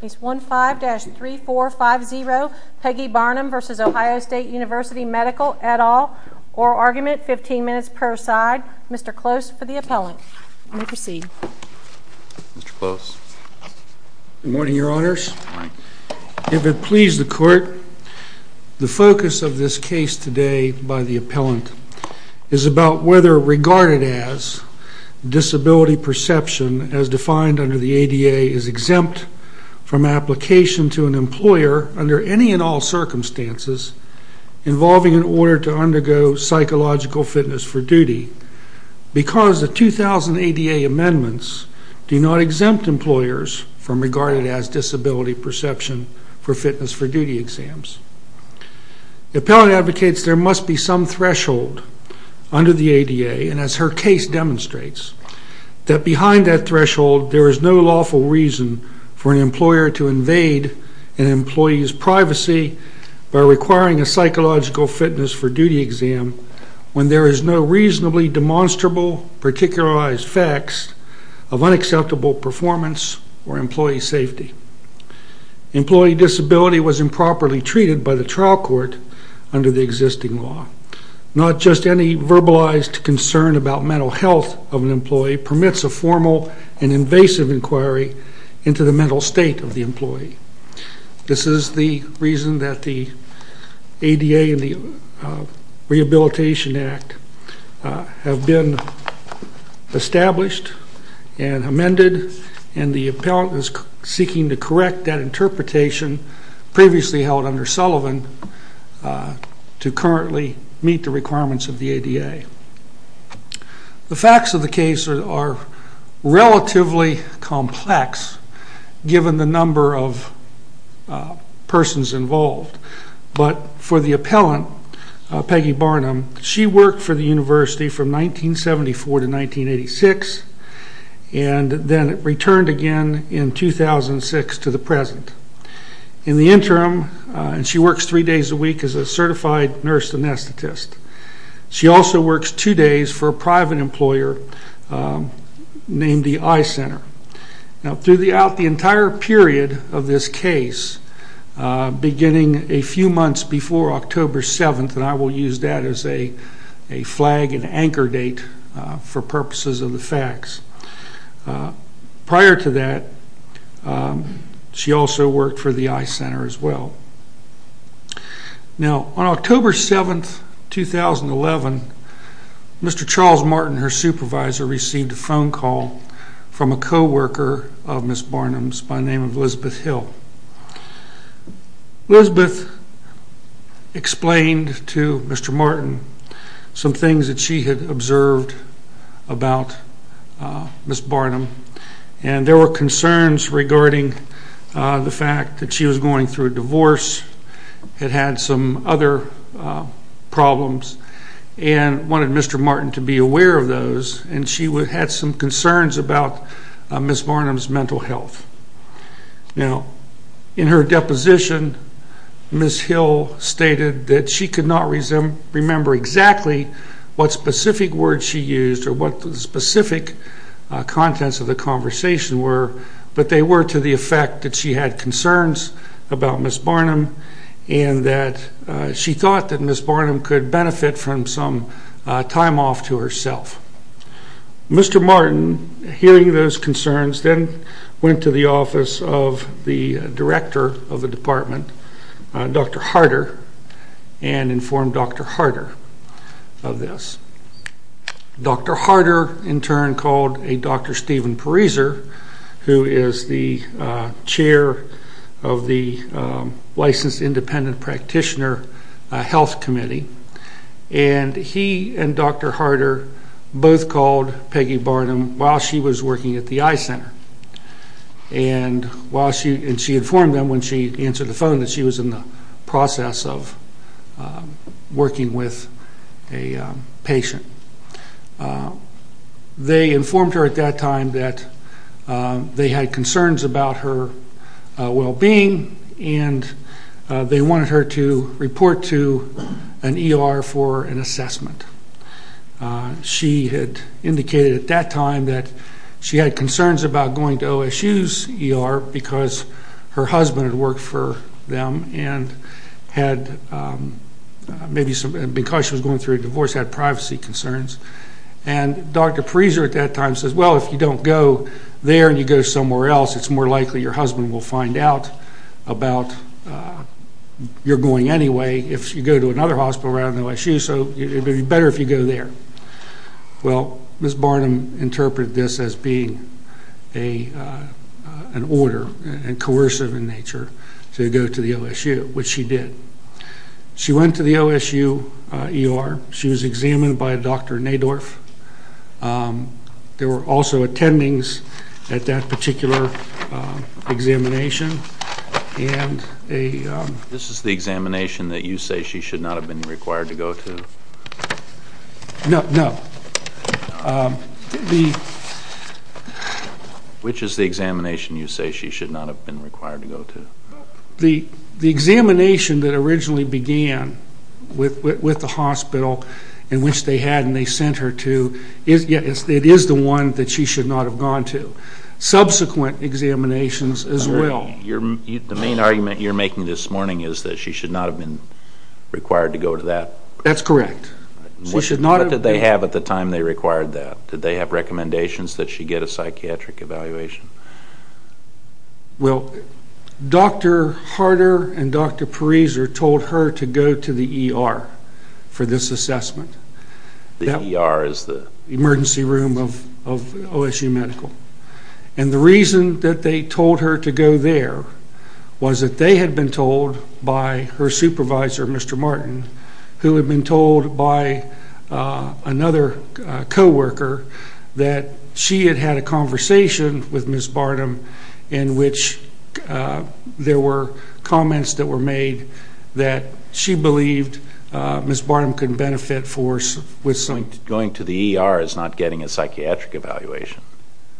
Case 15-3450, Peggy Barnum v. Ohio State University Medical, et al. Oral argument, 15 minutes per side. Mr. Close for the appellant. You may proceed. Mr. Close. Good morning, Your Honors. If it please the Court, the focus of this case today by the appellant is about whether regarded as disability perception, as defined under the ADA, is exempt from application to an employer under any and all circumstances involving an order to undergo psychological fitness for duty because the 2,000 ADA amendments do not exempt employers from regarded as disability perception for fitness for duty exams. The appellant advocates there must be some threshold under the ADA, and as her case demonstrates, that behind that threshold, there is no lawful reason for an employer to invade an employee's privacy by requiring a psychological fitness for duty exam when there is no reasonably demonstrable, particularized facts of unacceptable performance or employee safety. Employee disability was improperly treated by the trial court under the existing law. Not just any verbalized concern about mental health of an employee permits a formal and invasive inquiry into the mental state of the employee. This is the reason that the ADA and the Rehabilitation Act have been established and amended, and the appellant is seeking to correct that interpretation previously held under Sullivan to currently meet the requirements of the ADA. The facts of the case are relatively complex, given the number of persons involved, but for the appellant, Peggy Barnum, she worked for the university from 1974 to 1986, and then returned again in 2006 to the present. In the interim, she works three days a week as a certified nurse anesthetist. She also works two days for a private employer named the Eye Center. Now, throughout the entire period of this case, beginning a few months before October 7th, and I will use that as a flag and anchor date for purposes of the facts. Prior to that, she also worked for the Eye Center as well. Now, on October 7th, 2011, Mr. Charles Martin, her supervisor, received a phone call from a co-worker of Ms. Barnum's by the name of Elizabeth Hill. Elizabeth explained to Mr. Martin some things that she had observed about Ms. Barnum, and there were concerns regarding the fact that she was going through a divorce, had had some other problems, and wanted Mr. Martin to be aware of those, and she had some concerns about Ms. Barnum's mental health. Now, in her deposition, Ms. Hill stated that she could not remember exactly what specific words she used or what the specific contents of the conversation were, but they were to the effect that she had concerns about Ms. Barnum, and that she thought that Ms. Barnum could benefit from some time off to herself. Mr. Martin, hearing those concerns, then went to the office of the director of the department, Dr. Harder, and informed Dr. Harder of this. Dr. Harder, in turn, called a Dr. Stephen Pariser, who is the chair of the Licensed Independent Practitioner Health Committee, and he and Dr. Harder both called Peggy Barnum while she was working at the Eye Center, and she informed them when she answered the phone that she was in the process of working with a patient. They informed her at that time that they had concerns about her well-being, and they wanted her to report to an ER for an assessment. She had indicated at that time that she had concerns about going to OSU's ER because her husband had worked for them, and maybe because she was going through a divorce, had privacy concerns. And Dr. Pariser at that time says, well, if you don't go there and you go somewhere else, it's more likely your husband will find out about your going anyway if you go to another hospital around OSU, so it would be better if you go there. Well, Ms. Barnum interpreted this as being an order and coercive in nature to go to the OSU, which she did. She went to the OSU ER. She was examined by Dr. Nadorf. There were also attendings at that particular examination. This is the examination that you say she should not have been required to go to? No. Which is the examination you say she should not have been required to go to? The examination that originally began with the hospital in which they had and they sent her to, it is the one that she should not have gone to. Subsequent examinations as well. The main argument you're making this morning is that she should not have been required to go to that. That's correct. What did they have at the time they required that? Did they have recommendations that she get a psychiatric evaluation? Well, Dr. Harder and Dr. Pariser told her to go to the ER for this assessment. The ER is the? Emergency room of OSU Medical. And the reason that they told her to go there was that they had been told by her supervisor, Mr. Martin, who had been told by another coworker that she had had a conversation with Ms. Barnum in which there were comments that were made that she believed Ms. Barnum could benefit with something. Going to the ER is not getting a psychiatric evaluation.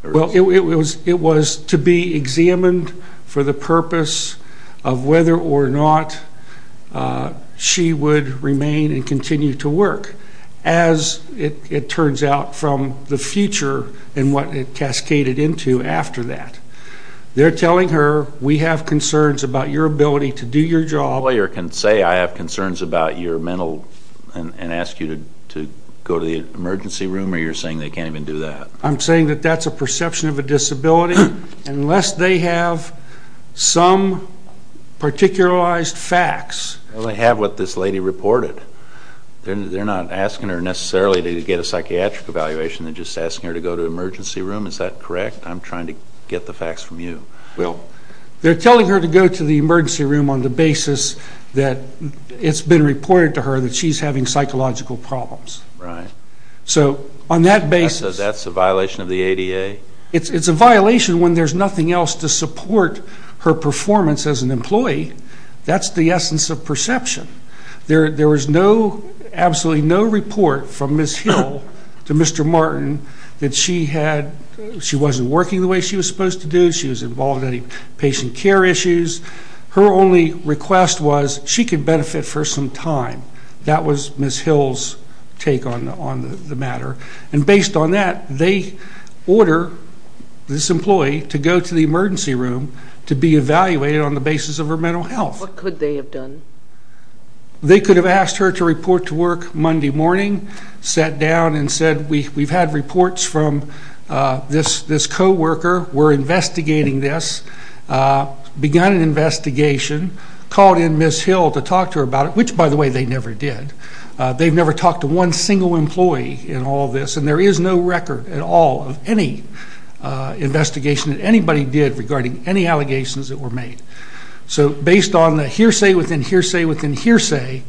Well, it was to be examined for the purpose of whether or not she would remain and continue to work, as it turns out from the future and what it cascaded into after that. They're telling her we have concerns about your ability to do your job. A lawyer can say I have concerns about your mental and ask you to go to the emergency room or you're saying they can't even do that? I'm saying that that's a perception of a disability unless they have some particularized facts. Well, they have what this lady reported. They're not asking her necessarily to get a psychiatric evaluation. They're just asking her to go to the emergency room. Is that correct? I'm trying to get the facts from you. They're telling her to go to the emergency room on the basis that it's been reported to her that she's having psychological problems. Right. So on that basis. So that's a violation of the ADA? It's a violation when there's nothing else to support her performance as an employee. That's the essence of perception. There was absolutely no report from Ms. Hill to Mr. Martin that she wasn't working the way she was supposed to do. She was involved in any patient care issues. Her only request was she could benefit for some time. That was Ms. Hill's take on the matter. And based on that, they order this employee to go to the emergency room to be evaluated on the basis of her mental health. What could they have done? They could have asked her to report to work Monday morning, sat down and said, we've had reports from this coworker, we're investigating this, begun an investigation, called in Ms. Hill to talk to her about it, which, by the way, they never did. They've never talked to one single employee in all this, and there is no record at all of any investigation that anybody did regarding any allegations that were made. So based on the hearsay within hearsay within hearsay,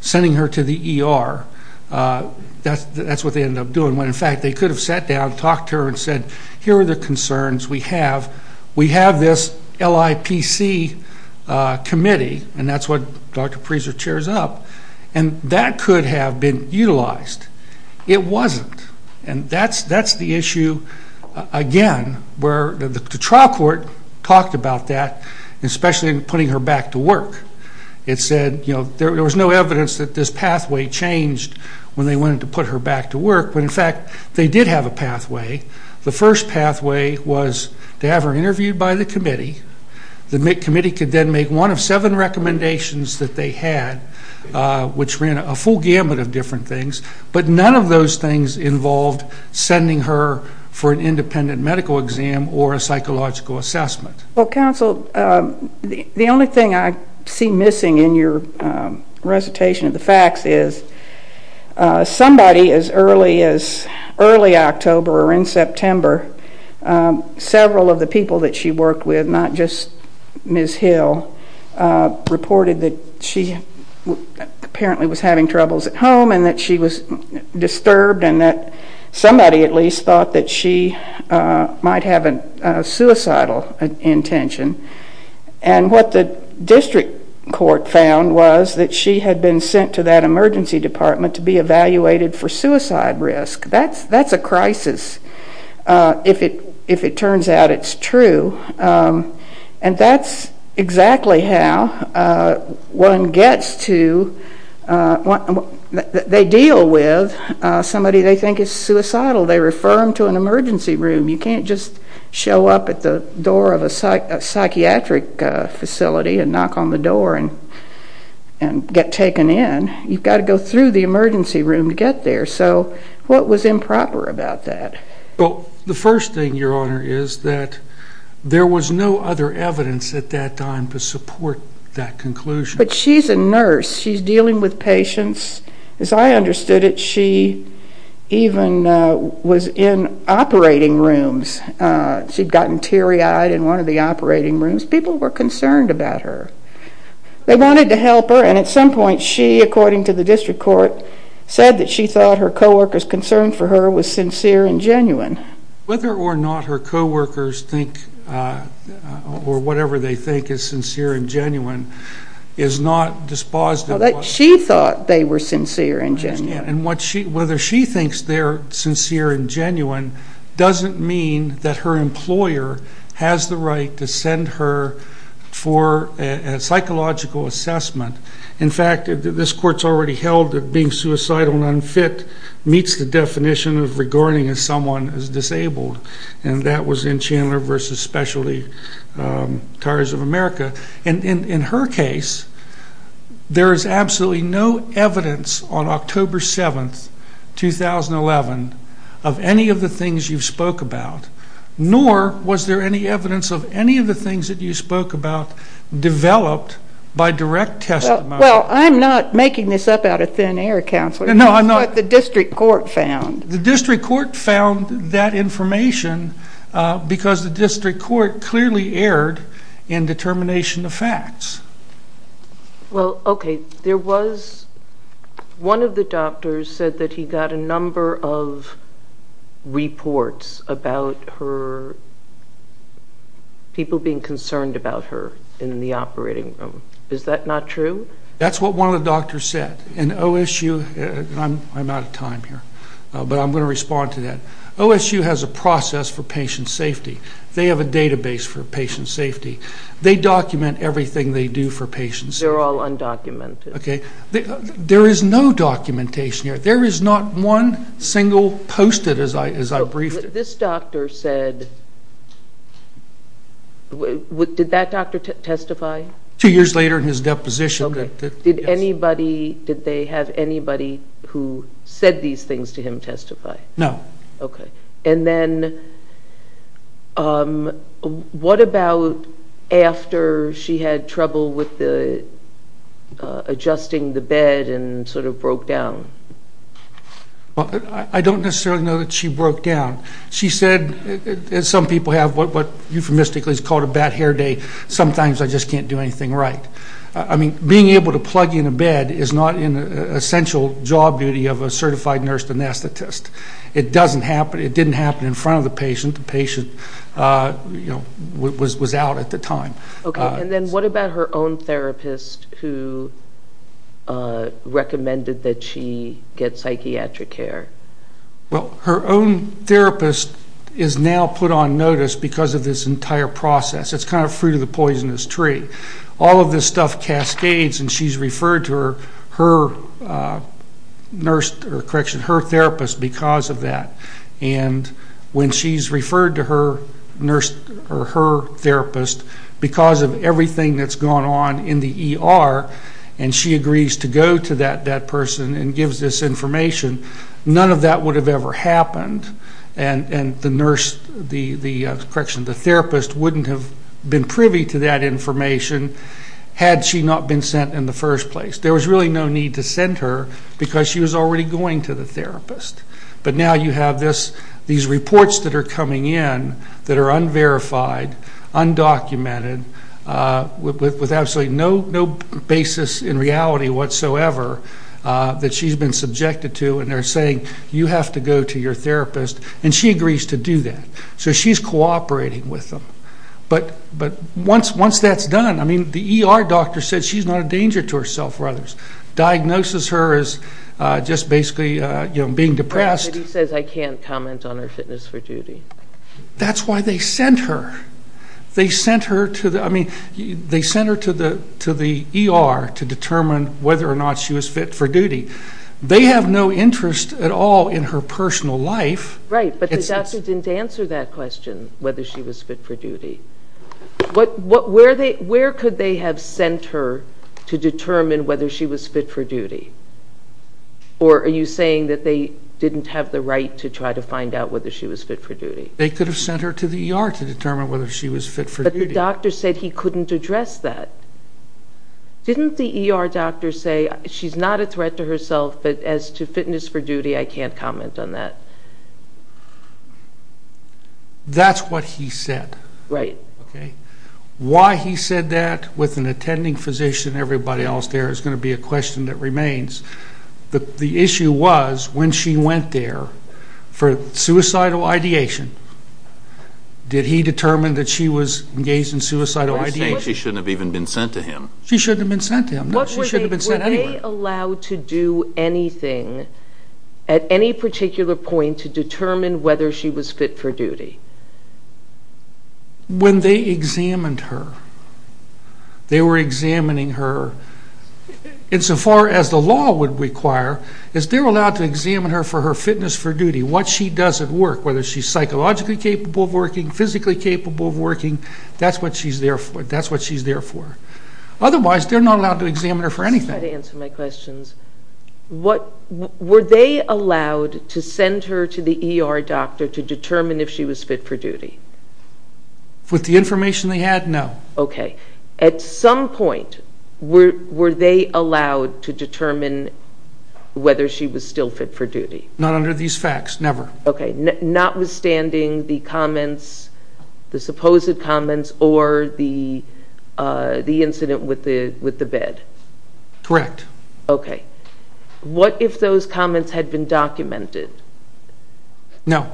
sending her to the ER, that's what they ended up doing. When, in fact, they could have sat down, talked to her and said, here are the concerns we have. We have this LIPC committee, and that's what Dr. Prieser chairs up. And that could have been utilized. It wasn't. And that's the issue, again, where the trial court talked about that, especially in putting her back to work. It said, you know, there was no evidence that this pathway changed when they wanted to put her back to work. But, in fact, they did have a pathway. The first pathway was to have her interviewed by the committee. The committee could then make one of seven recommendations that they had, which ran a full gamut of different things. But none of those things involved sending her for an independent medical exam or a psychological assessment. Well, counsel, the only thing I see missing in your recitation of the facts is somebody as early as early October or in September, several of the people that she worked with, not just Ms. Hill, reported that she apparently was having troubles at home and that she was disturbed and that somebody at least thought that she might have a suicidal intention. And what the district court found was that she had been sent to that emergency department to be evaluated for suicide risk. That's a crisis, if it turns out it's true. And that's exactly how one gets to what they deal with somebody they think is suicidal. They refer them to an emergency room. You can't just show up at the door of a psychiatric facility and knock on the door and get taken in. You've got to go through the emergency room to get there. So what was improper about that? Well, the first thing, Your Honor, is that there was no other evidence at that time to support that conclusion. But she's a nurse. She's dealing with patients. As I understood it, she even was in operating rooms. She'd gotten teary-eyed in one of the operating rooms. People were concerned about her. They wanted to help her, and at some point she, according to the district court, said that she thought her co-workers' concern for her was sincere and genuine. Whether or not her co-workers think or whatever they think is sincere and genuine is not dispositive. Whether she thinks they're sincere and genuine doesn't mean that her employer has the right to send her for a psychological assessment. In fact, this court's already held that being suicidal and unfit meets the definition of regarding someone as disabled, and that was in Chandler v. Specialty Tires of America. In her case, there is absolutely no evidence on October 7, 2011, of any of the things you spoke about, nor was there any evidence of any of the things that you spoke about developed by direct testimony. Well, I'm not making this up out of thin air, Counselor. No, I'm not. That's what the district court found. The district court found that information because the district court clearly erred in determination of facts. Well, okay, one of the doctors said that he got a number of reports about people being concerned about her in the operating room. Is that not true? That's what one of the doctors said. I'm out of time here, but I'm going to respond to that. OSU has a process for patient safety. They have a database for patient safety. They document everything they do for patient safety. They're all undocumented. Okay. There is no documentation here. There is not one single Post-it, as I briefed it. This doctor said, did that doctor testify? Two years later in his deposition. Okay. Did they have anybody who said these things to him testify? No. Okay. And then what about after she had trouble with adjusting the bed and sort of broke down? I don't necessarily know that she broke down. She said, as some people have, what euphemistically is called a bad hair day, sometimes I just can't do anything right. I mean, being able to plug in a bed is not an essential job duty of a certified nurse anesthetist. It doesn't happen. It didn't happen in front of the patient. The patient was out at the time. Okay. And then what about her own therapist who recommended that she get psychiatric care? Well, her own therapist is now put on notice because of this entire process. It's kind of fruit of the poisonous tree. All of this stuff cascades, and she's referred to her therapist because of that. And when she's referred to her therapist because of everything that's gone on in the ER, and she agrees to go to that person and gives this information, none of that would have ever happened. And the therapist wouldn't have been privy to that information had she not been sent in the first place. There was really no need to send her because she was already going to the therapist. But now you have these reports that are coming in that are unverified, undocumented, with absolutely no basis in reality whatsoever that she's been subjected to, and they're saying you have to go to your therapist, and she agrees to do that. So she's cooperating with them. But once that's done, I mean, the ER doctor says she's not a danger to herself or others, diagnoses her as just basically being depressed. Right, but he says I can't comment on her fitness for duty. That's why they sent her. They sent her to the ER to determine whether or not she was fit for duty. They have no interest at all in her personal life. Right, but the doctor didn't answer that question, whether she was fit for duty. Where could they have sent her to determine whether she was fit for duty? Or are you saying that they didn't have the right to try to find out whether she was fit for duty? They could have sent her to the ER to determine whether she was fit for duty. But the doctor said he couldn't address that. Didn't the ER doctor say she's not a threat to herself, but as to fitness for duty, I can't comment on that? That's what he said. Right. Why he said that with an attending physician and everybody else there is going to be a question that remains. The issue was when she went there for suicidal ideation, did he determine that she was engaged in suicidal ideation? No, he was saying she shouldn't have even been sent to him. She shouldn't have been sent to him. No, she shouldn't have been sent anywhere. Were they allowed to do anything at any particular point to determine whether she was fit for duty? When they examined her, they were examining her, insofar as the law would require is they're allowed to examine her for her fitness for duty, physically capable of working, that's what she's there for. Otherwise, they're not allowed to examine her for anything. I'm just trying to answer my questions. Were they allowed to send her to the ER doctor to determine if she was fit for duty? With the information they had, no. Okay. At some point, were they allowed to determine whether she was still fit for duty? Not under these facts, never. Okay, notwithstanding the comments, the supposed comments, or the incident with the bed? Correct. Okay. What if those comments had been documented? No.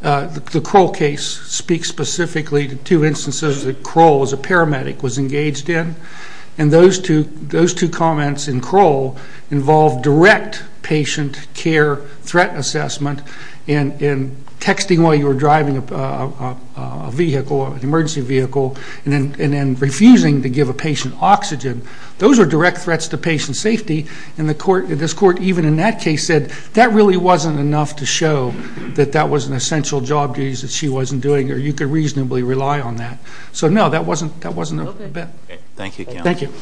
The Kroll case speaks specifically to two instances that Kroll, as a paramedic, was engaged in, and those two comments in Kroll involved direct patient care threat assessment and texting while you were driving a vehicle, an emergency vehicle, and then refusing to give a patient oxygen. Those are direct threats to patient safety, and this court, even in that case, said that really wasn't enough to show that that was an essential job that she wasn't doing or you could reasonably rely on that. So, no, that wasn't a bed. Thank you, counsel. Thank you.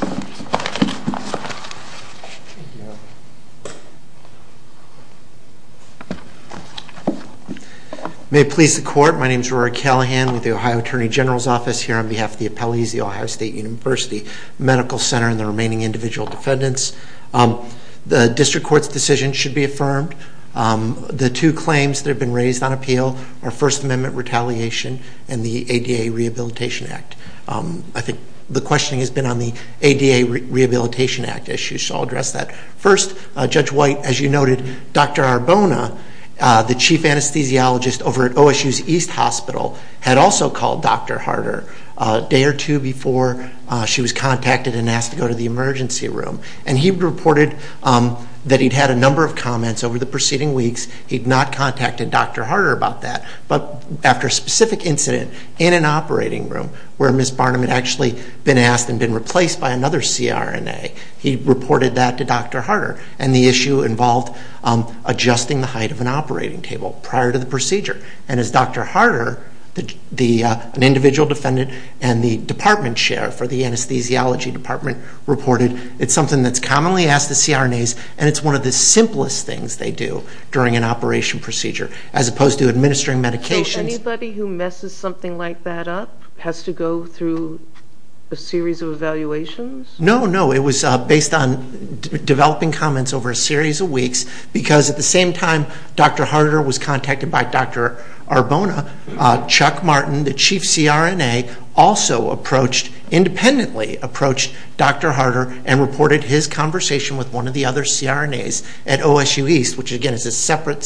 May it please the Court, my name is Rory Callahan with the Ohio Attorney General's Office here on behalf of the appellees, the Ohio State University Medical Center, and the remaining individual defendants. The district court's decision should be affirmed. The two claims that have been raised on appeal are First Amendment retaliation and the ADA Rehabilitation Act. I think the questioning has been on the ADA Rehabilitation Act issue, so I'll address that. First, Judge White, as you noted, Dr. Arbona, the chief anesthesiologist over at OSU's East Hospital, had also called Dr. Harder a day or two before she was contacted and asked to go to the emergency room, and he reported that he'd had a number of comments over the preceding weeks. He'd not contacted Dr. Harder about that, but after a specific incident in an operating room where Ms. Barnum had actually been asked and been replaced by another CRNA, he reported that to Dr. Harder, and the issue involved adjusting the height of an operating table prior to the procedure. And as Dr. Harder, an individual defendant, and the department chair for the anesthesiology department reported, it's something that's commonly asked of CRNAs, and it's one of the simplest things they do during an operation procedure, as opposed to administering medications. Anybody who messes something like that up has to go through a series of evaluations? No, no, it was based on developing comments over a series of weeks, because at the same time Dr. Harder was contacted by Dr. Arbona, Chuck Martin, the chief CRNA, also approached, independently approached Dr. Harder, and reported his conversation with one of the other CRNAs at OSU East, which again is a separate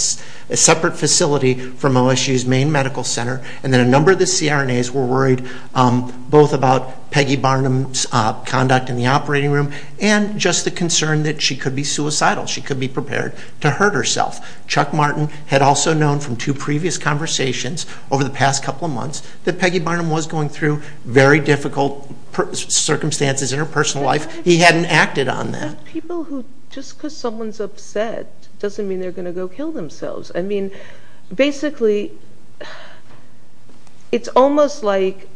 facility from OSU's main medical center. And then a number of the CRNAs were worried both about Peggy Barnum's conduct in the operating room, and just the concern that she could be suicidal, she could be prepared to hurt herself. Chuck Martin had also known from two previous conversations over the past couple of months that Peggy Barnum was going through very difficult circumstances in her personal life. He hadn't acted on that. People who, just because someone's upset, doesn't mean they're going to go kill themselves. I mean, basically, it's almost like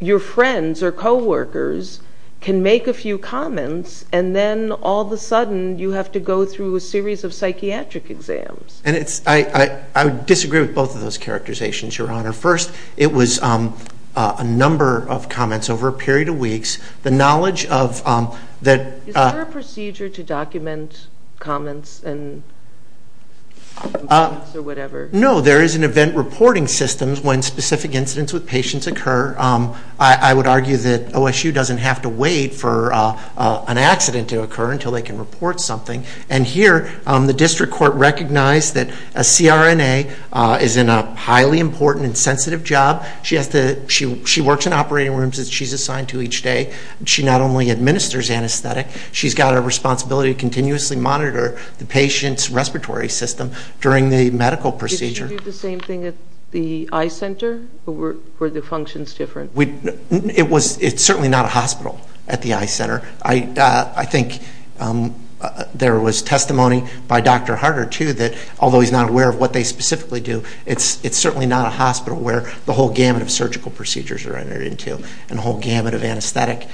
your friends or co-workers can make a few comments, and then all of a sudden you have to go through a series of psychiatric exams. And I disagree with both of those characterizations, Your Honor. First, it was a number of comments over a period of weeks. Is there a procedure to document comments or whatever? No, there is an event reporting system when specific incidents with patients occur. I would argue that OSU doesn't have to wait for an accident to occur until they can report something. And here, the district court recognized that a CRNA is in a highly important and sensitive job. She works in operating rooms that she's assigned to each day. She not only administers anesthetic, she's got a responsibility to continuously monitor the patient's respiratory system during the medical procedure. Did she do the same thing at the eye center, or were the functions different? It's certainly not a hospital at the eye center. I think there was testimony by Dr. Harder, too, that although he's not aware of what they specifically do, it's certainly not a hospital where the whole gamut of surgical procedures are entered into and the whole gamut of anesthetic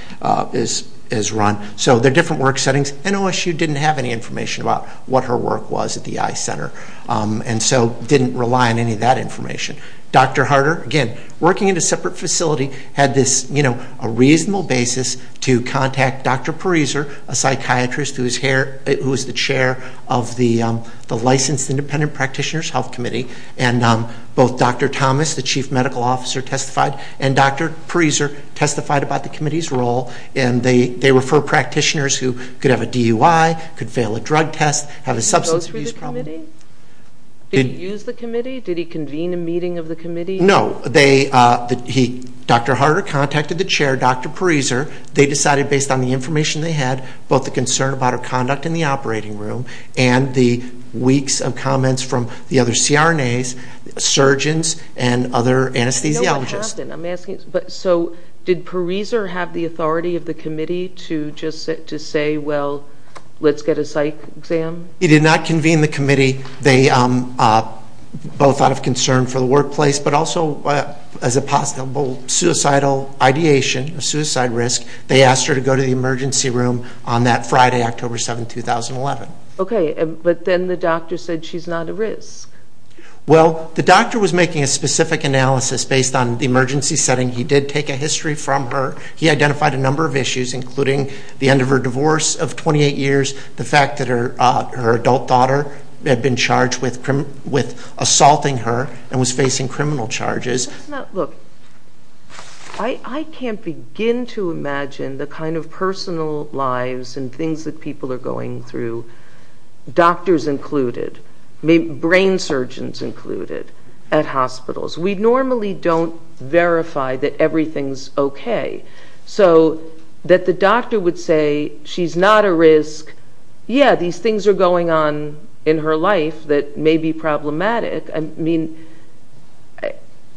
is run. So they're different work settings. And OSU didn't have any information about what her work was at the eye center and so didn't rely on any of that information. Dr. Harder, again, working at a separate facility, had a reasonable basis to contact Dr. Pariser, a psychiatrist, who is the chair of the Licensed Independent Practitioners Health Committee. And both Dr. Thomas, the chief medical officer, testified, and Dr. Pariser testified about the committee's role. And they refer practitioners who could have a DUI, could fail a drug test, have a substance abuse problem. Did he go through the committee? Did he use the committee? Did he convene a meeting of the committee? No. Dr. Harder contacted the chair, Dr. Pariser. They decided, based on the information they had, both the concern about her conduct in the operating room and the weeks of comments from the other CRNAs, surgeons, and other anesthesiologists. I know what happened. So did Pariser have the authority of the committee to just say, well, let's get a psych exam? He did not convene the committee, both out of concern for the workplace but also as a possible suicidal ideation, a suicide risk. They asked her to go to the emergency room on that Friday, October 7, 2011. Okay, but then the doctor said she's not a risk. Well, the doctor was making a specific analysis based on the emergency setting. He did take a history from her. He identified a number of issues, including the end of her divorce of 28 years, the fact that her adult daughter had been charged with assaulting her and was facing criminal charges. Look, I can't begin to imagine the kind of personal lives and things that people are going through, doctors included, brain surgeons included, at hospitals. We normally don't verify that everything's okay. So that the doctor would say she's not a risk, yeah, these things are going on in her life that may be problematic. I mean,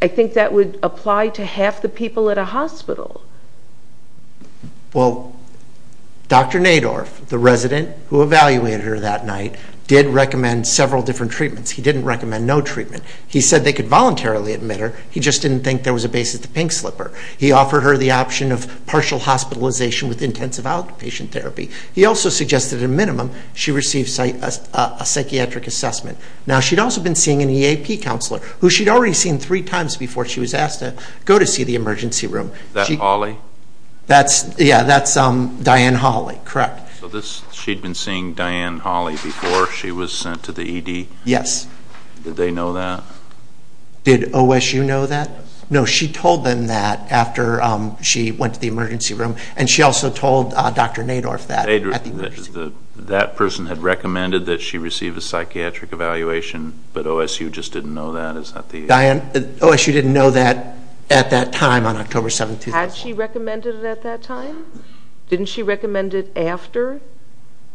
I think that would apply to half the people at a hospital. Well, Dr. Nadorf, the resident who evaluated her that night, did recommend several different treatments. He didn't recommend no treatment. He said they could voluntarily admit her. He just didn't think there was a basis to pink slip her. He offered her the option of partial hospitalization with intensive outpatient therapy. He also suggested a minimum she receive a psychiatric assessment. Now, she'd also been seeing an EAP counselor, who she'd already seen three times before she was asked to go to see the emergency room. Is that Holly? Yeah, that's Diane Holly, correct. So she'd been seeing Diane Holly before she was sent to the ED? Yes. Did they know that? Did OSU know that? No. No, she told them that after she went to the emergency room, and she also told Dr. Nadorf that at the emergency room. That person had recommended that she receive a psychiatric evaluation, but OSU just didn't know that? Diane, OSU didn't know that at that time on October 7, 2001. Had she recommended it at that time? Didn't she recommend it after,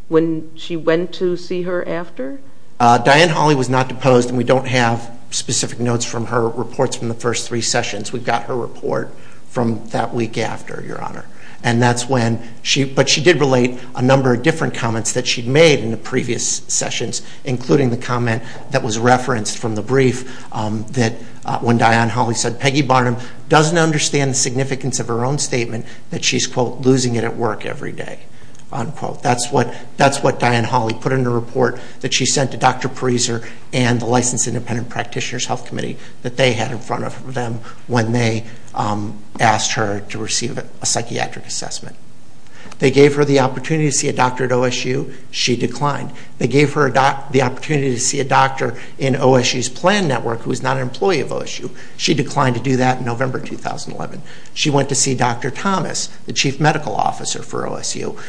when she went to see her after? Diane Holly was not deposed, and we don't have specific notes from her reports from the first three sessions. We've got her report from that week after, Your Honor. But she did relate a number of different comments that she'd made in the previous sessions, including the comment that was referenced from the brief that when Diane Holly said, Peggy Barnum doesn't understand the significance of her own statement, that she's, quote, losing it at work every day, unquote. That's what Diane Holly put in her report that she sent to Dr. Pariser and the Licensed Independent Practitioners Health Committee that they had in front of them when they asked her to receive a psychiatric assessment. They gave her the opportunity to see a doctor at OSU. She declined. They gave her the opportunity to see a doctor in OSU's plan network who was not an employee of OSU. She declined to do that in November 2011. She went to see Dr. Thomas, the chief medical officer for OSU,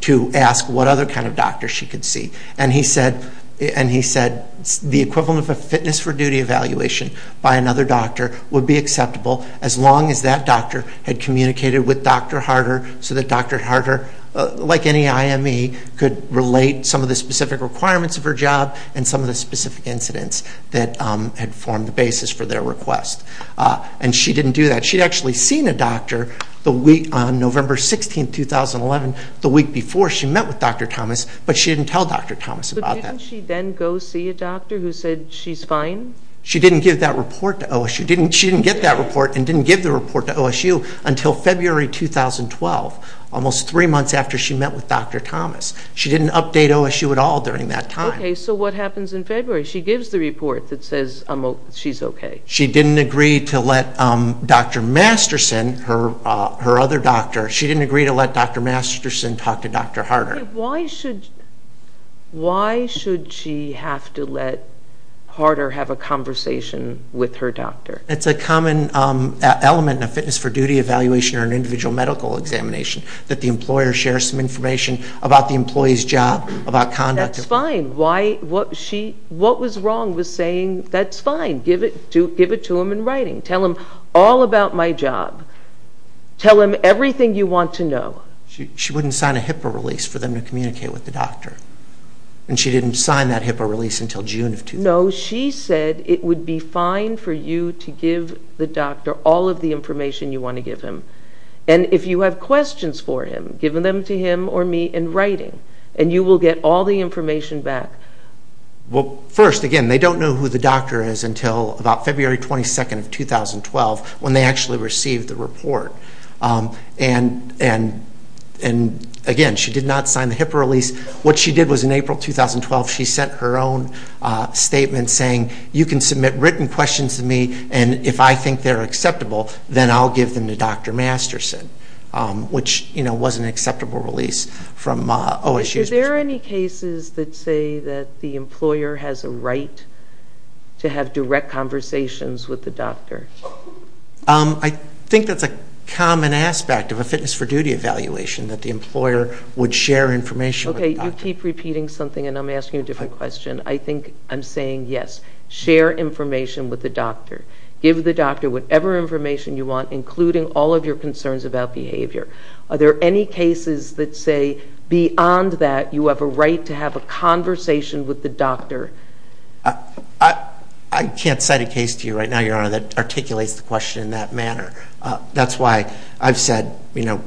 to ask what other kind of doctor she could see. And he said the equivalent of a fitness for duty evaluation by another doctor would be acceptable as long as that doctor had communicated with Dr. Harder so that Dr. Harder, like any IME, could relate some of the specific requirements of her job and some of the specific incidents that had formed the basis for their request. And she didn't do that. She had actually seen a doctor on November 16, 2011, the week before she met with Dr. Thomas, but she didn't tell Dr. Thomas about that. But didn't she then go see a doctor who said she's fine? She didn't give that report to OSU. She didn't get that report and didn't give the report to OSU until February 2012, almost three months after she met with Dr. Thomas. She didn't update OSU at all during that time. Okay, so what happens in February? She gives the report that says she's okay. She didn't agree to let Dr. Masterson, her other doctor, she didn't agree to let Dr. Masterson talk to Dr. Harder. Why should she have to let Harder have a conversation with her doctor? It's a common element in a fitness for duty evaluation or an individual medical examination that the employer shares some information about the employee's job, about conduct. That's fine. What was wrong was saying, that's fine, give it to him in writing. Tell him all about my job. Tell him everything you want to know. She wouldn't sign a HIPAA release for them to communicate with the doctor, and she didn't sign that HIPAA release until June of 2012. No, she said it would be fine for you to give the doctor all of the information you want to give him, and if you have questions for him, give them to him or me in writing, and you will get all the information back. Well, first, again, they don't know who the doctor is until about February 22nd of 2012, when they actually received the report. And, again, she did not sign the HIPAA release. What she did was in April 2012, she sent her own statement saying, you can submit written questions to me, and if I think they're acceptable, then I'll give them to Dr. Masterson, which was an acceptable release from OSU's perspective. Are there any cases that say that the employer has a right to have direct conversations with the doctor? I think that's a common aspect of a fitness for duty evaluation, that the employer would share information with the doctor. Okay, you keep repeating something, and I'm asking a different question. I think I'm saying, yes, share information with the doctor. Give the doctor whatever information you want, including all of your concerns about behavior. Are there any cases that say, beyond that, you have a right to have a conversation with the doctor? I can't cite a case to you right now, Your Honor, that articulates the question in that manner. That's why I've said, you know,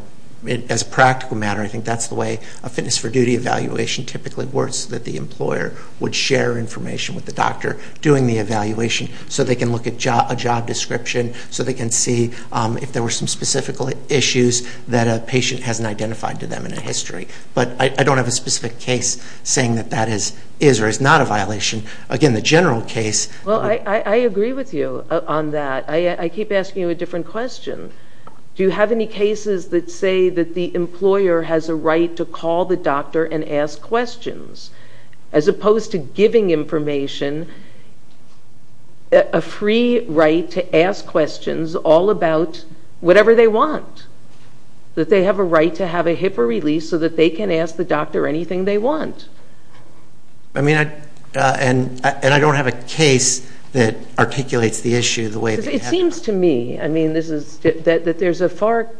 as a practical matter, I think that's the way a fitness for duty evaluation typically works, that the employer would share information with the doctor doing the evaluation so they can look at a job description, so they can see if there were some specific issues that a patient hasn't identified to them in a history. But I don't have a specific case saying that that is or is not a violation. Again, the general case— Well, I agree with you on that. I keep asking you a different question. Do you have any cases that say that the employer has a right to call the doctor and ask questions, as opposed to giving information, a free right to ask questions all about whatever they want, that they have a right to have a HIPAA release so that they can ask the doctor anything they want? I mean, and I don't have a case that articulates the issue the way— It seems to me, I mean, that there's a far— and that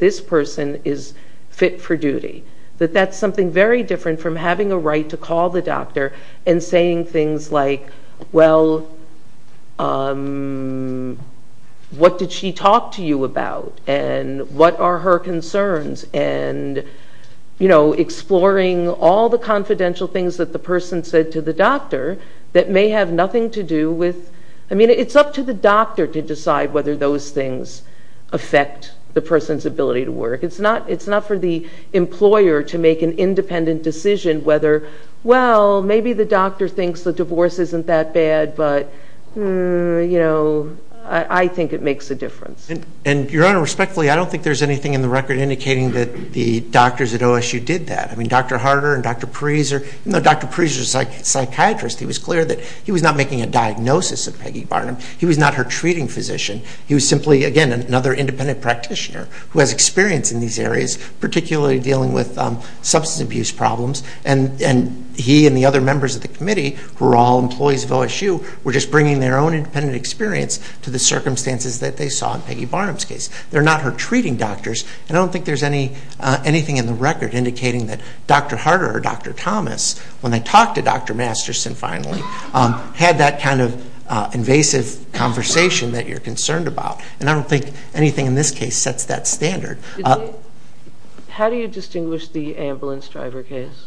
this person is fit for duty, that that's something very different from having a right to call the doctor and saying things like, well, what did she talk to you about, and what are her concerns, and exploring all the confidential things that the person said to the doctor that may have nothing to do with— I mean, it's up to the doctor to decide whether those things affect the person's ability to work. It's not for the employer to make an independent decision whether, well, maybe the doctor thinks the divorce isn't that bad, but, you know, I think it makes a difference. And, Your Honor, respectfully, I don't think there's anything in the record indicating that the doctors at OSU did that. I mean, Dr. Harder and Dr. Pariser— it's clear that he was not making a diagnosis of Peggy Barnum. He was not her treating physician. He was simply, again, another independent practitioner who has experience in these areas, particularly dealing with substance abuse problems. And he and the other members of the committee, who are all employees of OSU, were just bringing their own independent experience to the circumstances that they saw in Peggy Barnum's case. They're not her treating doctors, and I don't think there's anything in the record indicating that Dr. Harder or Dr. Thomas, when they talked to Dr. Masterson finally, had that kind of invasive conversation that you're concerned about. And I don't think anything in this case sets that standard. How do you distinguish the ambulance driver case?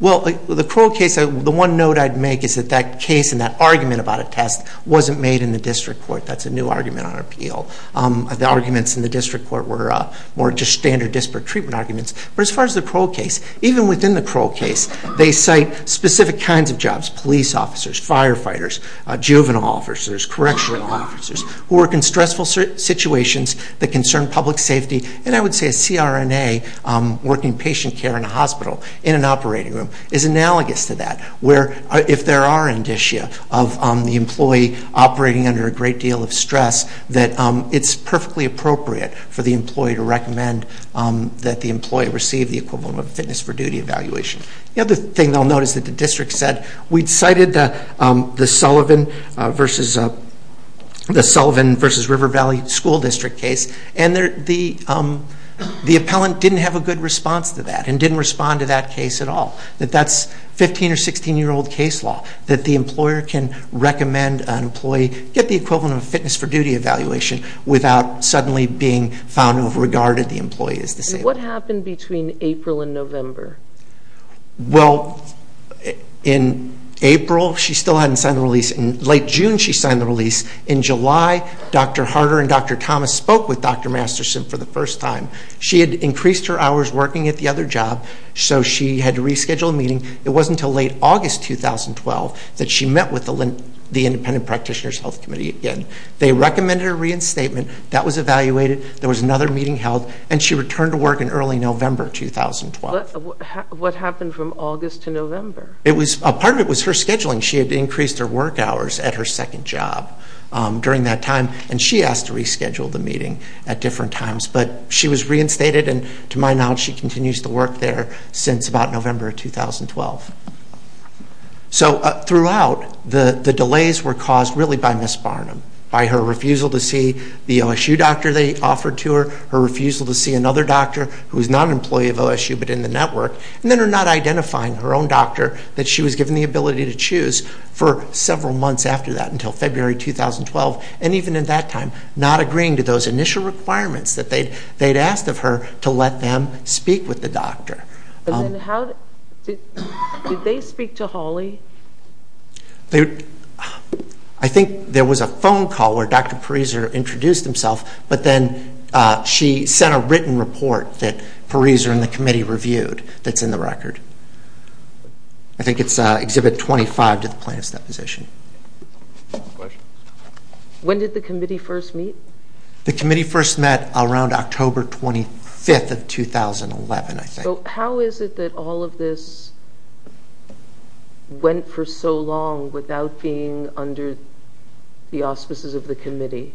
Well, the Crow case, the one note I'd make is that that case and that argument about a test wasn't made in the district court. That's a new argument on appeal. The arguments in the district court were more just standard disparate treatment arguments. But as far as the Crow case, even within the Crow case, they cite specific kinds of jobs, police officers, firefighters, juvenile officers, correctional officers, who work in stressful situations that concern public safety. And I would say a CRNA, working patient care in a hospital, in an operating room, is analogous to that, where if there are indicia of the employee operating under a great deal of stress, that it's perfectly appropriate for the employee to recommend that the employee receive the equivalent of a fitness for duty evaluation. The other thing I'll note is that the district said, we'd cited the Sullivan versus River Valley School District case, and the appellant didn't have a good response to that and didn't respond to that case at all. That that's 15 or 16-year-old case law. That the employer can recommend an employee get the equivalent of a fitness for duty evaluation without suddenly being found overregarded, the employee is disabled. And what happened between April and November? Well, in April, she still hadn't signed the release. In late June, she signed the release. In July, Dr. Harder and Dr. Thomas spoke with Dr. Masterson for the first time. She had increased her hours working at the other job, so she had to reschedule a meeting. It wasn't until late August 2012 that she met with the Independent Practitioners Health Committee again. They recommended a reinstatement. That was evaluated. There was another meeting held, and she returned to work in early November 2012. What happened from August to November? Part of it was her scheduling. She had increased her work hours at her second job during that time, and she asked to reschedule the meeting at different times. But she was reinstated, and to my knowledge, she continues to work there since about November 2012. So throughout, the delays were caused really by Ms. Barnum, by her refusal to see the OSU doctor they offered to her, her refusal to see another doctor who was not an employee of OSU but in the network, and then her not identifying her own doctor that she was given the ability to choose for several months after that until February 2012, and even at that time, not agreeing to those initial requirements that they had asked of her to let them speak with the doctor. Did they speak to Holly? I think there was a phone call where Dr. Pariser introduced himself, but then she sent a written report that Pariser and the committee reviewed that's in the record. I think it's Exhibit 25 to the plaintiff's deposition. When did the committee first meet? The committee first met around October 25th of 2011, I think. How is it that all of this went for so long without being under the auspices of the committee?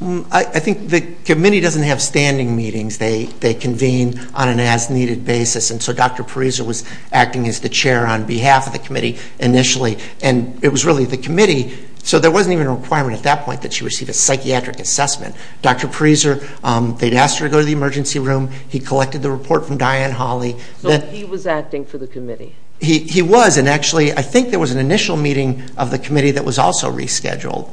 I think the committee doesn't have standing meetings. They convene on an as-needed basis, and so Dr. Pariser was acting as the chair on behalf of the committee initially, and it was really the committee. So there wasn't even a requirement at that point that she receive a psychiatric assessment. Dr. Pariser, they'd asked her to go to the emergency room. He collected the report from Diane Holly. So he was acting for the committee? He was, and actually, I think there was an initial meeting of the committee that was also rescheduled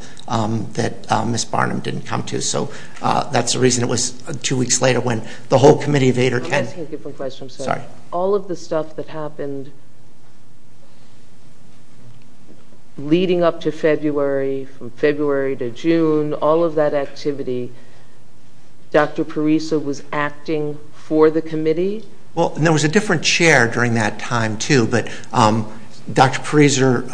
that Ms. Barnum didn't come to, so that's the reason it was two weeks later when the whole committee of 8 or 10— All of the stuff that happened leading up to February, from February to June, all of that activity, Dr. Pariser was acting for the committee? Well, and there was a different chair during that time too, but Dr. Pariser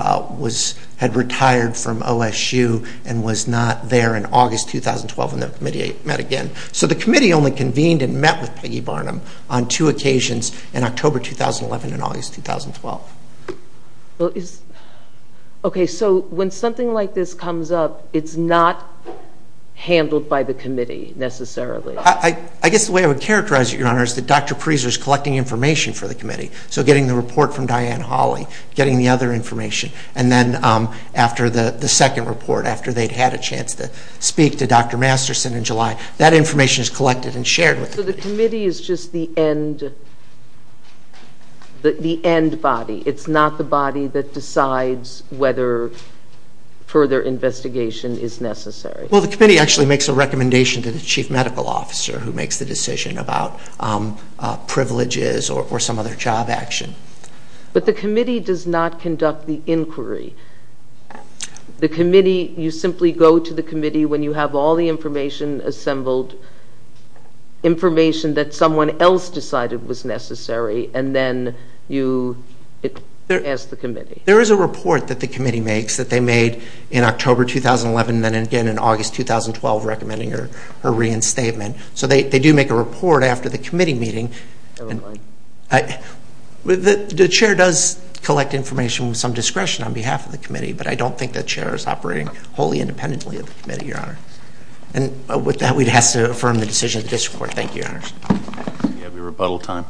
had retired from OSU and was not there in August 2012, and the committee met again. So the committee only convened and met with Peggy Barnum on two occasions in October 2011 and August 2012. Okay, so when something like this comes up, it's not handled by the committee necessarily? I guess the way I would characterize it, Your Honor, is that Dr. Pariser is collecting information for the committee, so getting the report from Diane Holly, getting the other information, and then after the second report, after they'd had a chance to speak to Dr. Masterson in July, that information is collected and shared with the committee. So the committee is just the end body. It's not the body that decides whether further investigation is necessary. Well, the committee actually makes a recommendation to the chief medical officer who makes the decision about privileges or some other job action. But the committee does not conduct the inquiry. The committee, you simply go to the committee when you have all the information assembled, information that someone else decided was necessary, and then you ask the committee. There is a report that the committee makes that they made in October 2011 and then again in August 2012 recommending her reinstatement. So they do make a report after the committee meeting. The chair does collect information with some discretion on behalf of the committee, but I don't think the chair is operating wholly independently of the committee, Your Honor. And with that, we'd have to affirm the decision of the district court. Thank you, Your Honors. Do you have your rebuttal time?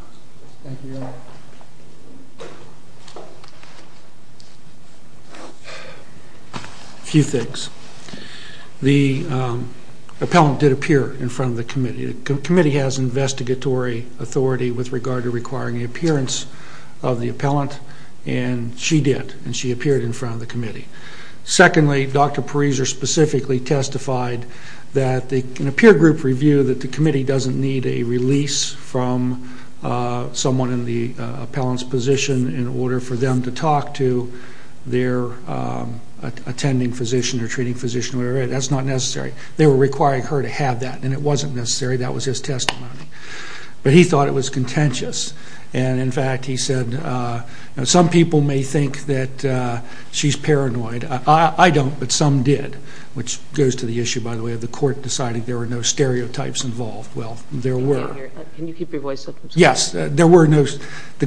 A few things. The appellant did appear in front of the committee. The committee has investigatory authority with regard to requiring the appearance of the appellant, and she did, and she appeared in front of the committee. Secondly, Dr. Pariser specifically testified in a peer group review that the committee doesn't need a release from someone in the appellant's position in order for them to talk to their attending physician or treating physician. That's not necessary. They were requiring her to have that, and it wasn't necessary. That was his testimony. But he thought it was contentious. And, in fact, he said some people may think that she's paranoid. I don't, but some did, which goes to the issue, by the way, of the court deciding there were no stereotypes involved. Well, there were. Can you keep your voice up? Yes. The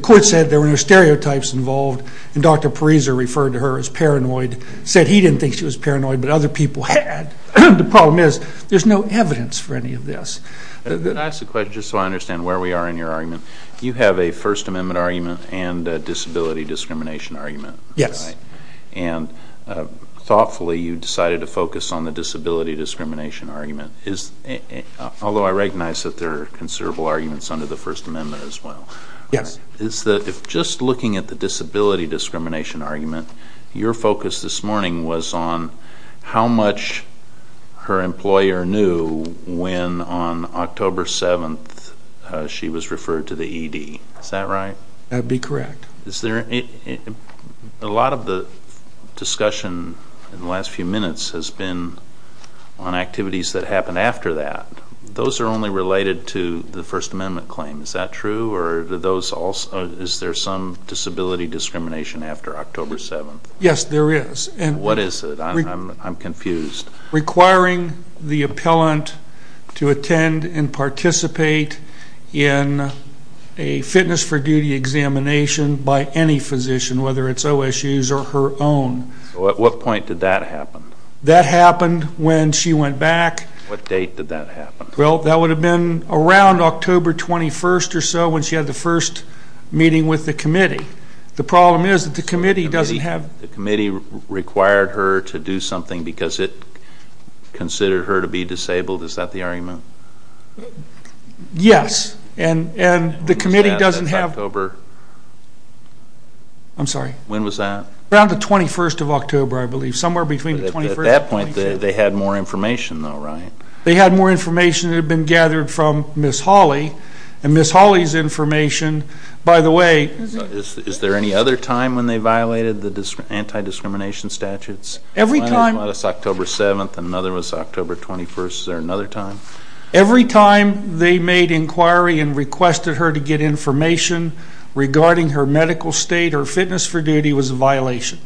court said there were no stereotypes involved, and Dr. Pariser referred to her as paranoid, said he didn't think she was paranoid, but other people had. The problem is there's no evidence for any of this. Can I ask a question just so I understand where we are in your argument? You have a First Amendment argument and a disability discrimination argument. Yes. And, thoughtfully, you decided to focus on the disability discrimination argument, although I recognize that there are considerable arguments under the First Amendment as well. Yes. Just looking at the disability discrimination argument, your focus this morning was on how much her employer knew when, on October 7th, she was referred to the ED. Is that right? That would be correct. A lot of the discussion in the last few minutes has been on activities that happened after that. Those are only related to the First Amendment claim. Is that true? Is there some disability discrimination after October 7th? Yes, there is. What is it? I'm confused. Requiring the appellant to attend and participate in a fitness for duty examination by any physician, whether it's OSUs or her own. At what point did that happen? That happened when she went back. What date did that happen? That would have been around October 21st or so when she had the first meeting with the committee. The problem is that the committee doesn't have... The committee required her to do something because it considered her to be disabled. Is that the argument? Yes. And the committee doesn't have... When was that? Around the 21st of October, I believe. At that point, they had more information, though, right? They had more information that had been gathered from Ms. Hawley, and Ms. Hawley's information, by the way... Is there any other time when they violated the anti-discrimination statutes? Every time... One was October 7th and another was October 21st. Is there another time? Every time they made inquiry and requested her to get information regarding her medical state or fitness for duty was a violation.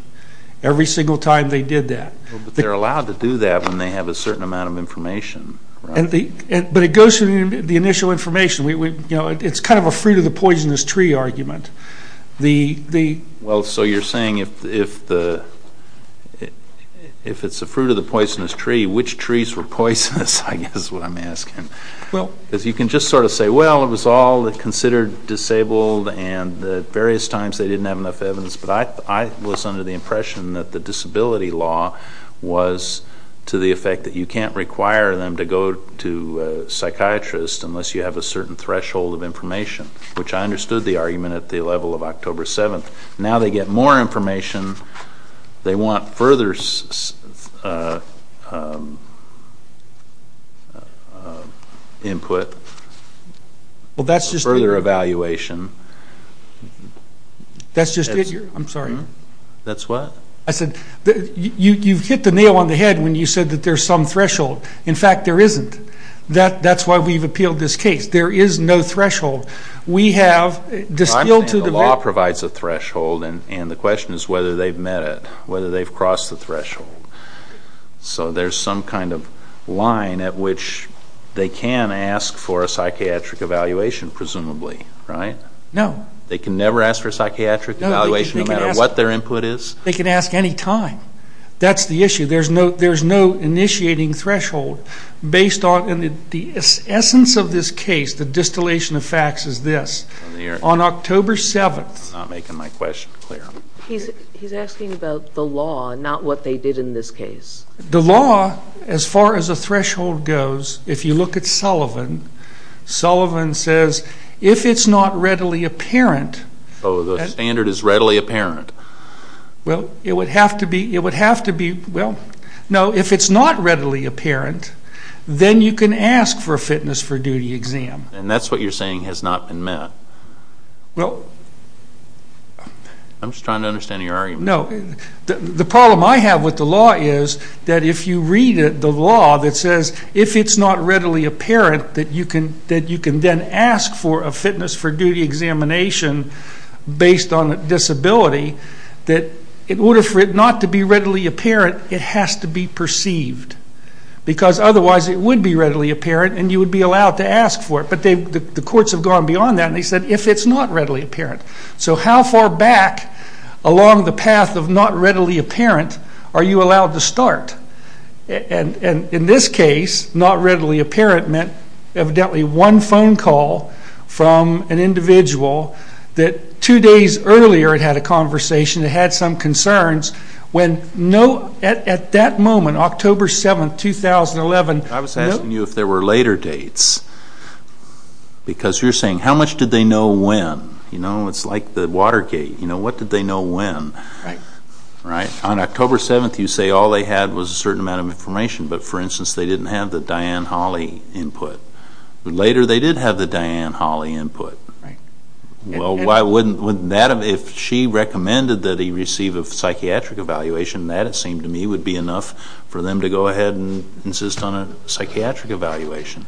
Every single time they did that. But they're allowed to do that when they have a certain amount of information, right? But it goes through the initial information. It's kind of a fruit-of-the-poisonous-tree argument. Well, so you're saying if it's a fruit-of-the-poisonous-tree, which trees were poisonous, I guess is what I'm asking. Because you can just sort of say, well, it was all considered disabled, and at various times they didn't have enough evidence. But I was under the impression that the disability law was to the effect that you can't require them to go to a psychiatrist unless you have a certain threshold of information, which I understood the argument at the level of October 7th. Now they get more information. They want further input. Well, that's just... Further evaluation. That's just it? I'm sorry. That's what? You've hit the nail on the head when you said that there's some threshold. In fact, there isn't. That's why we've appealed this case. There is no threshold. We have... I'm saying the law provides a threshold, and the question is whether they've met it, whether they've crossed the threshold. So there's some kind of line at which they can ask for a psychiatric evaluation, presumably, right? No. They can never ask for a psychiatric evaluation no matter what their input is? They can ask any time. That's the issue. There's no initiating threshold based on... And the essence of this case, the distillation of facts, is this. On October 7th... I'm not making my question clear. He's asking about the law, not what they did in this case. The law, as far as a threshold goes, if you look at Sullivan, Sullivan says if it's not readily apparent... Oh, the standard is readily apparent. Well, it would have to be... Well, no, if it's not readily apparent, then you can ask for a fitness for duty exam. And that's what you're saying has not been met? Well... I'm just trying to understand your argument. No. The problem I have with the law is that if you read the law that says if it's not readily apparent, that you can then ask for a fitness for duty examination based on disability, that in order for it not to be readily apparent, it has to be perceived. Because otherwise it would be readily apparent, and you would be allowed to ask for it. But the courts have gone beyond that, and they said if it's not readily apparent. So how far back along the path of not readily apparent are you allowed to start? And in this case, not readily apparent meant evidently one phone call from an individual that two days earlier had had a conversation, had had some concerns, when at that moment, October 7, 2011... I was asking you if there were later dates, because you're saying how much did they know when? You know, it's like the Watergate, you know, what did they know when? Right. Right? On October 7, you say all they had was a certain amount of information, but for instance, they didn't have the Diane Hawley input. Later they did have the Diane Hawley input. Right. Well, why wouldn't... If she recommended that he receive a psychiatric evaluation, that it seemed to me would be enough for them to go ahead and insist on a psychiatric evaluation.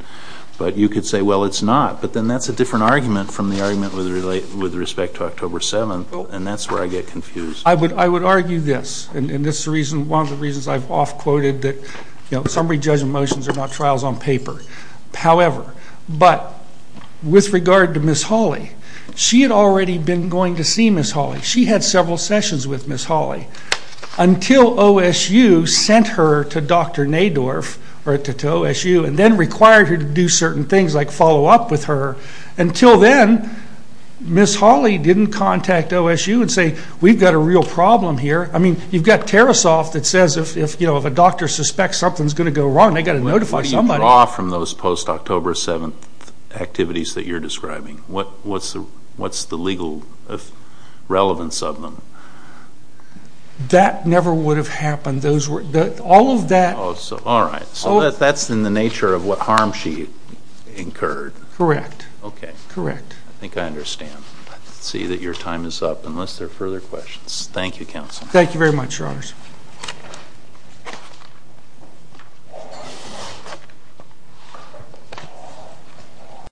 But you could say, well, it's not. But then that's a different argument from the argument with respect to October 7, and that's where I get confused. I would argue this, and this is one of the reasons I've off-quoted that, you know, summary judgment motions are not trials on paper. However, but with regard to Ms. Hawley, she had already been going to see Ms. Hawley. She had several sessions with Ms. Hawley until OSU sent her to Dr. Nadorf or to OSU and then required her to do certain things like follow up with her. Until then, Ms. Hawley didn't contact OSU and say, we've got a real problem here. I mean, you've got Tarasoff that says if a doctor suspects something's going to go wrong, they've got to notify somebody. What do you draw from those post-October 7 activities that you're describing? What's the legal relevance of them? That never would have happened. All of that... All right. So that's in the nature of what harm she incurred. Correct. Okay. Correct. I think I understand. Let's see that your time is up unless there are further questions. Thank you, Counsel. Thank you very much, Your Honors.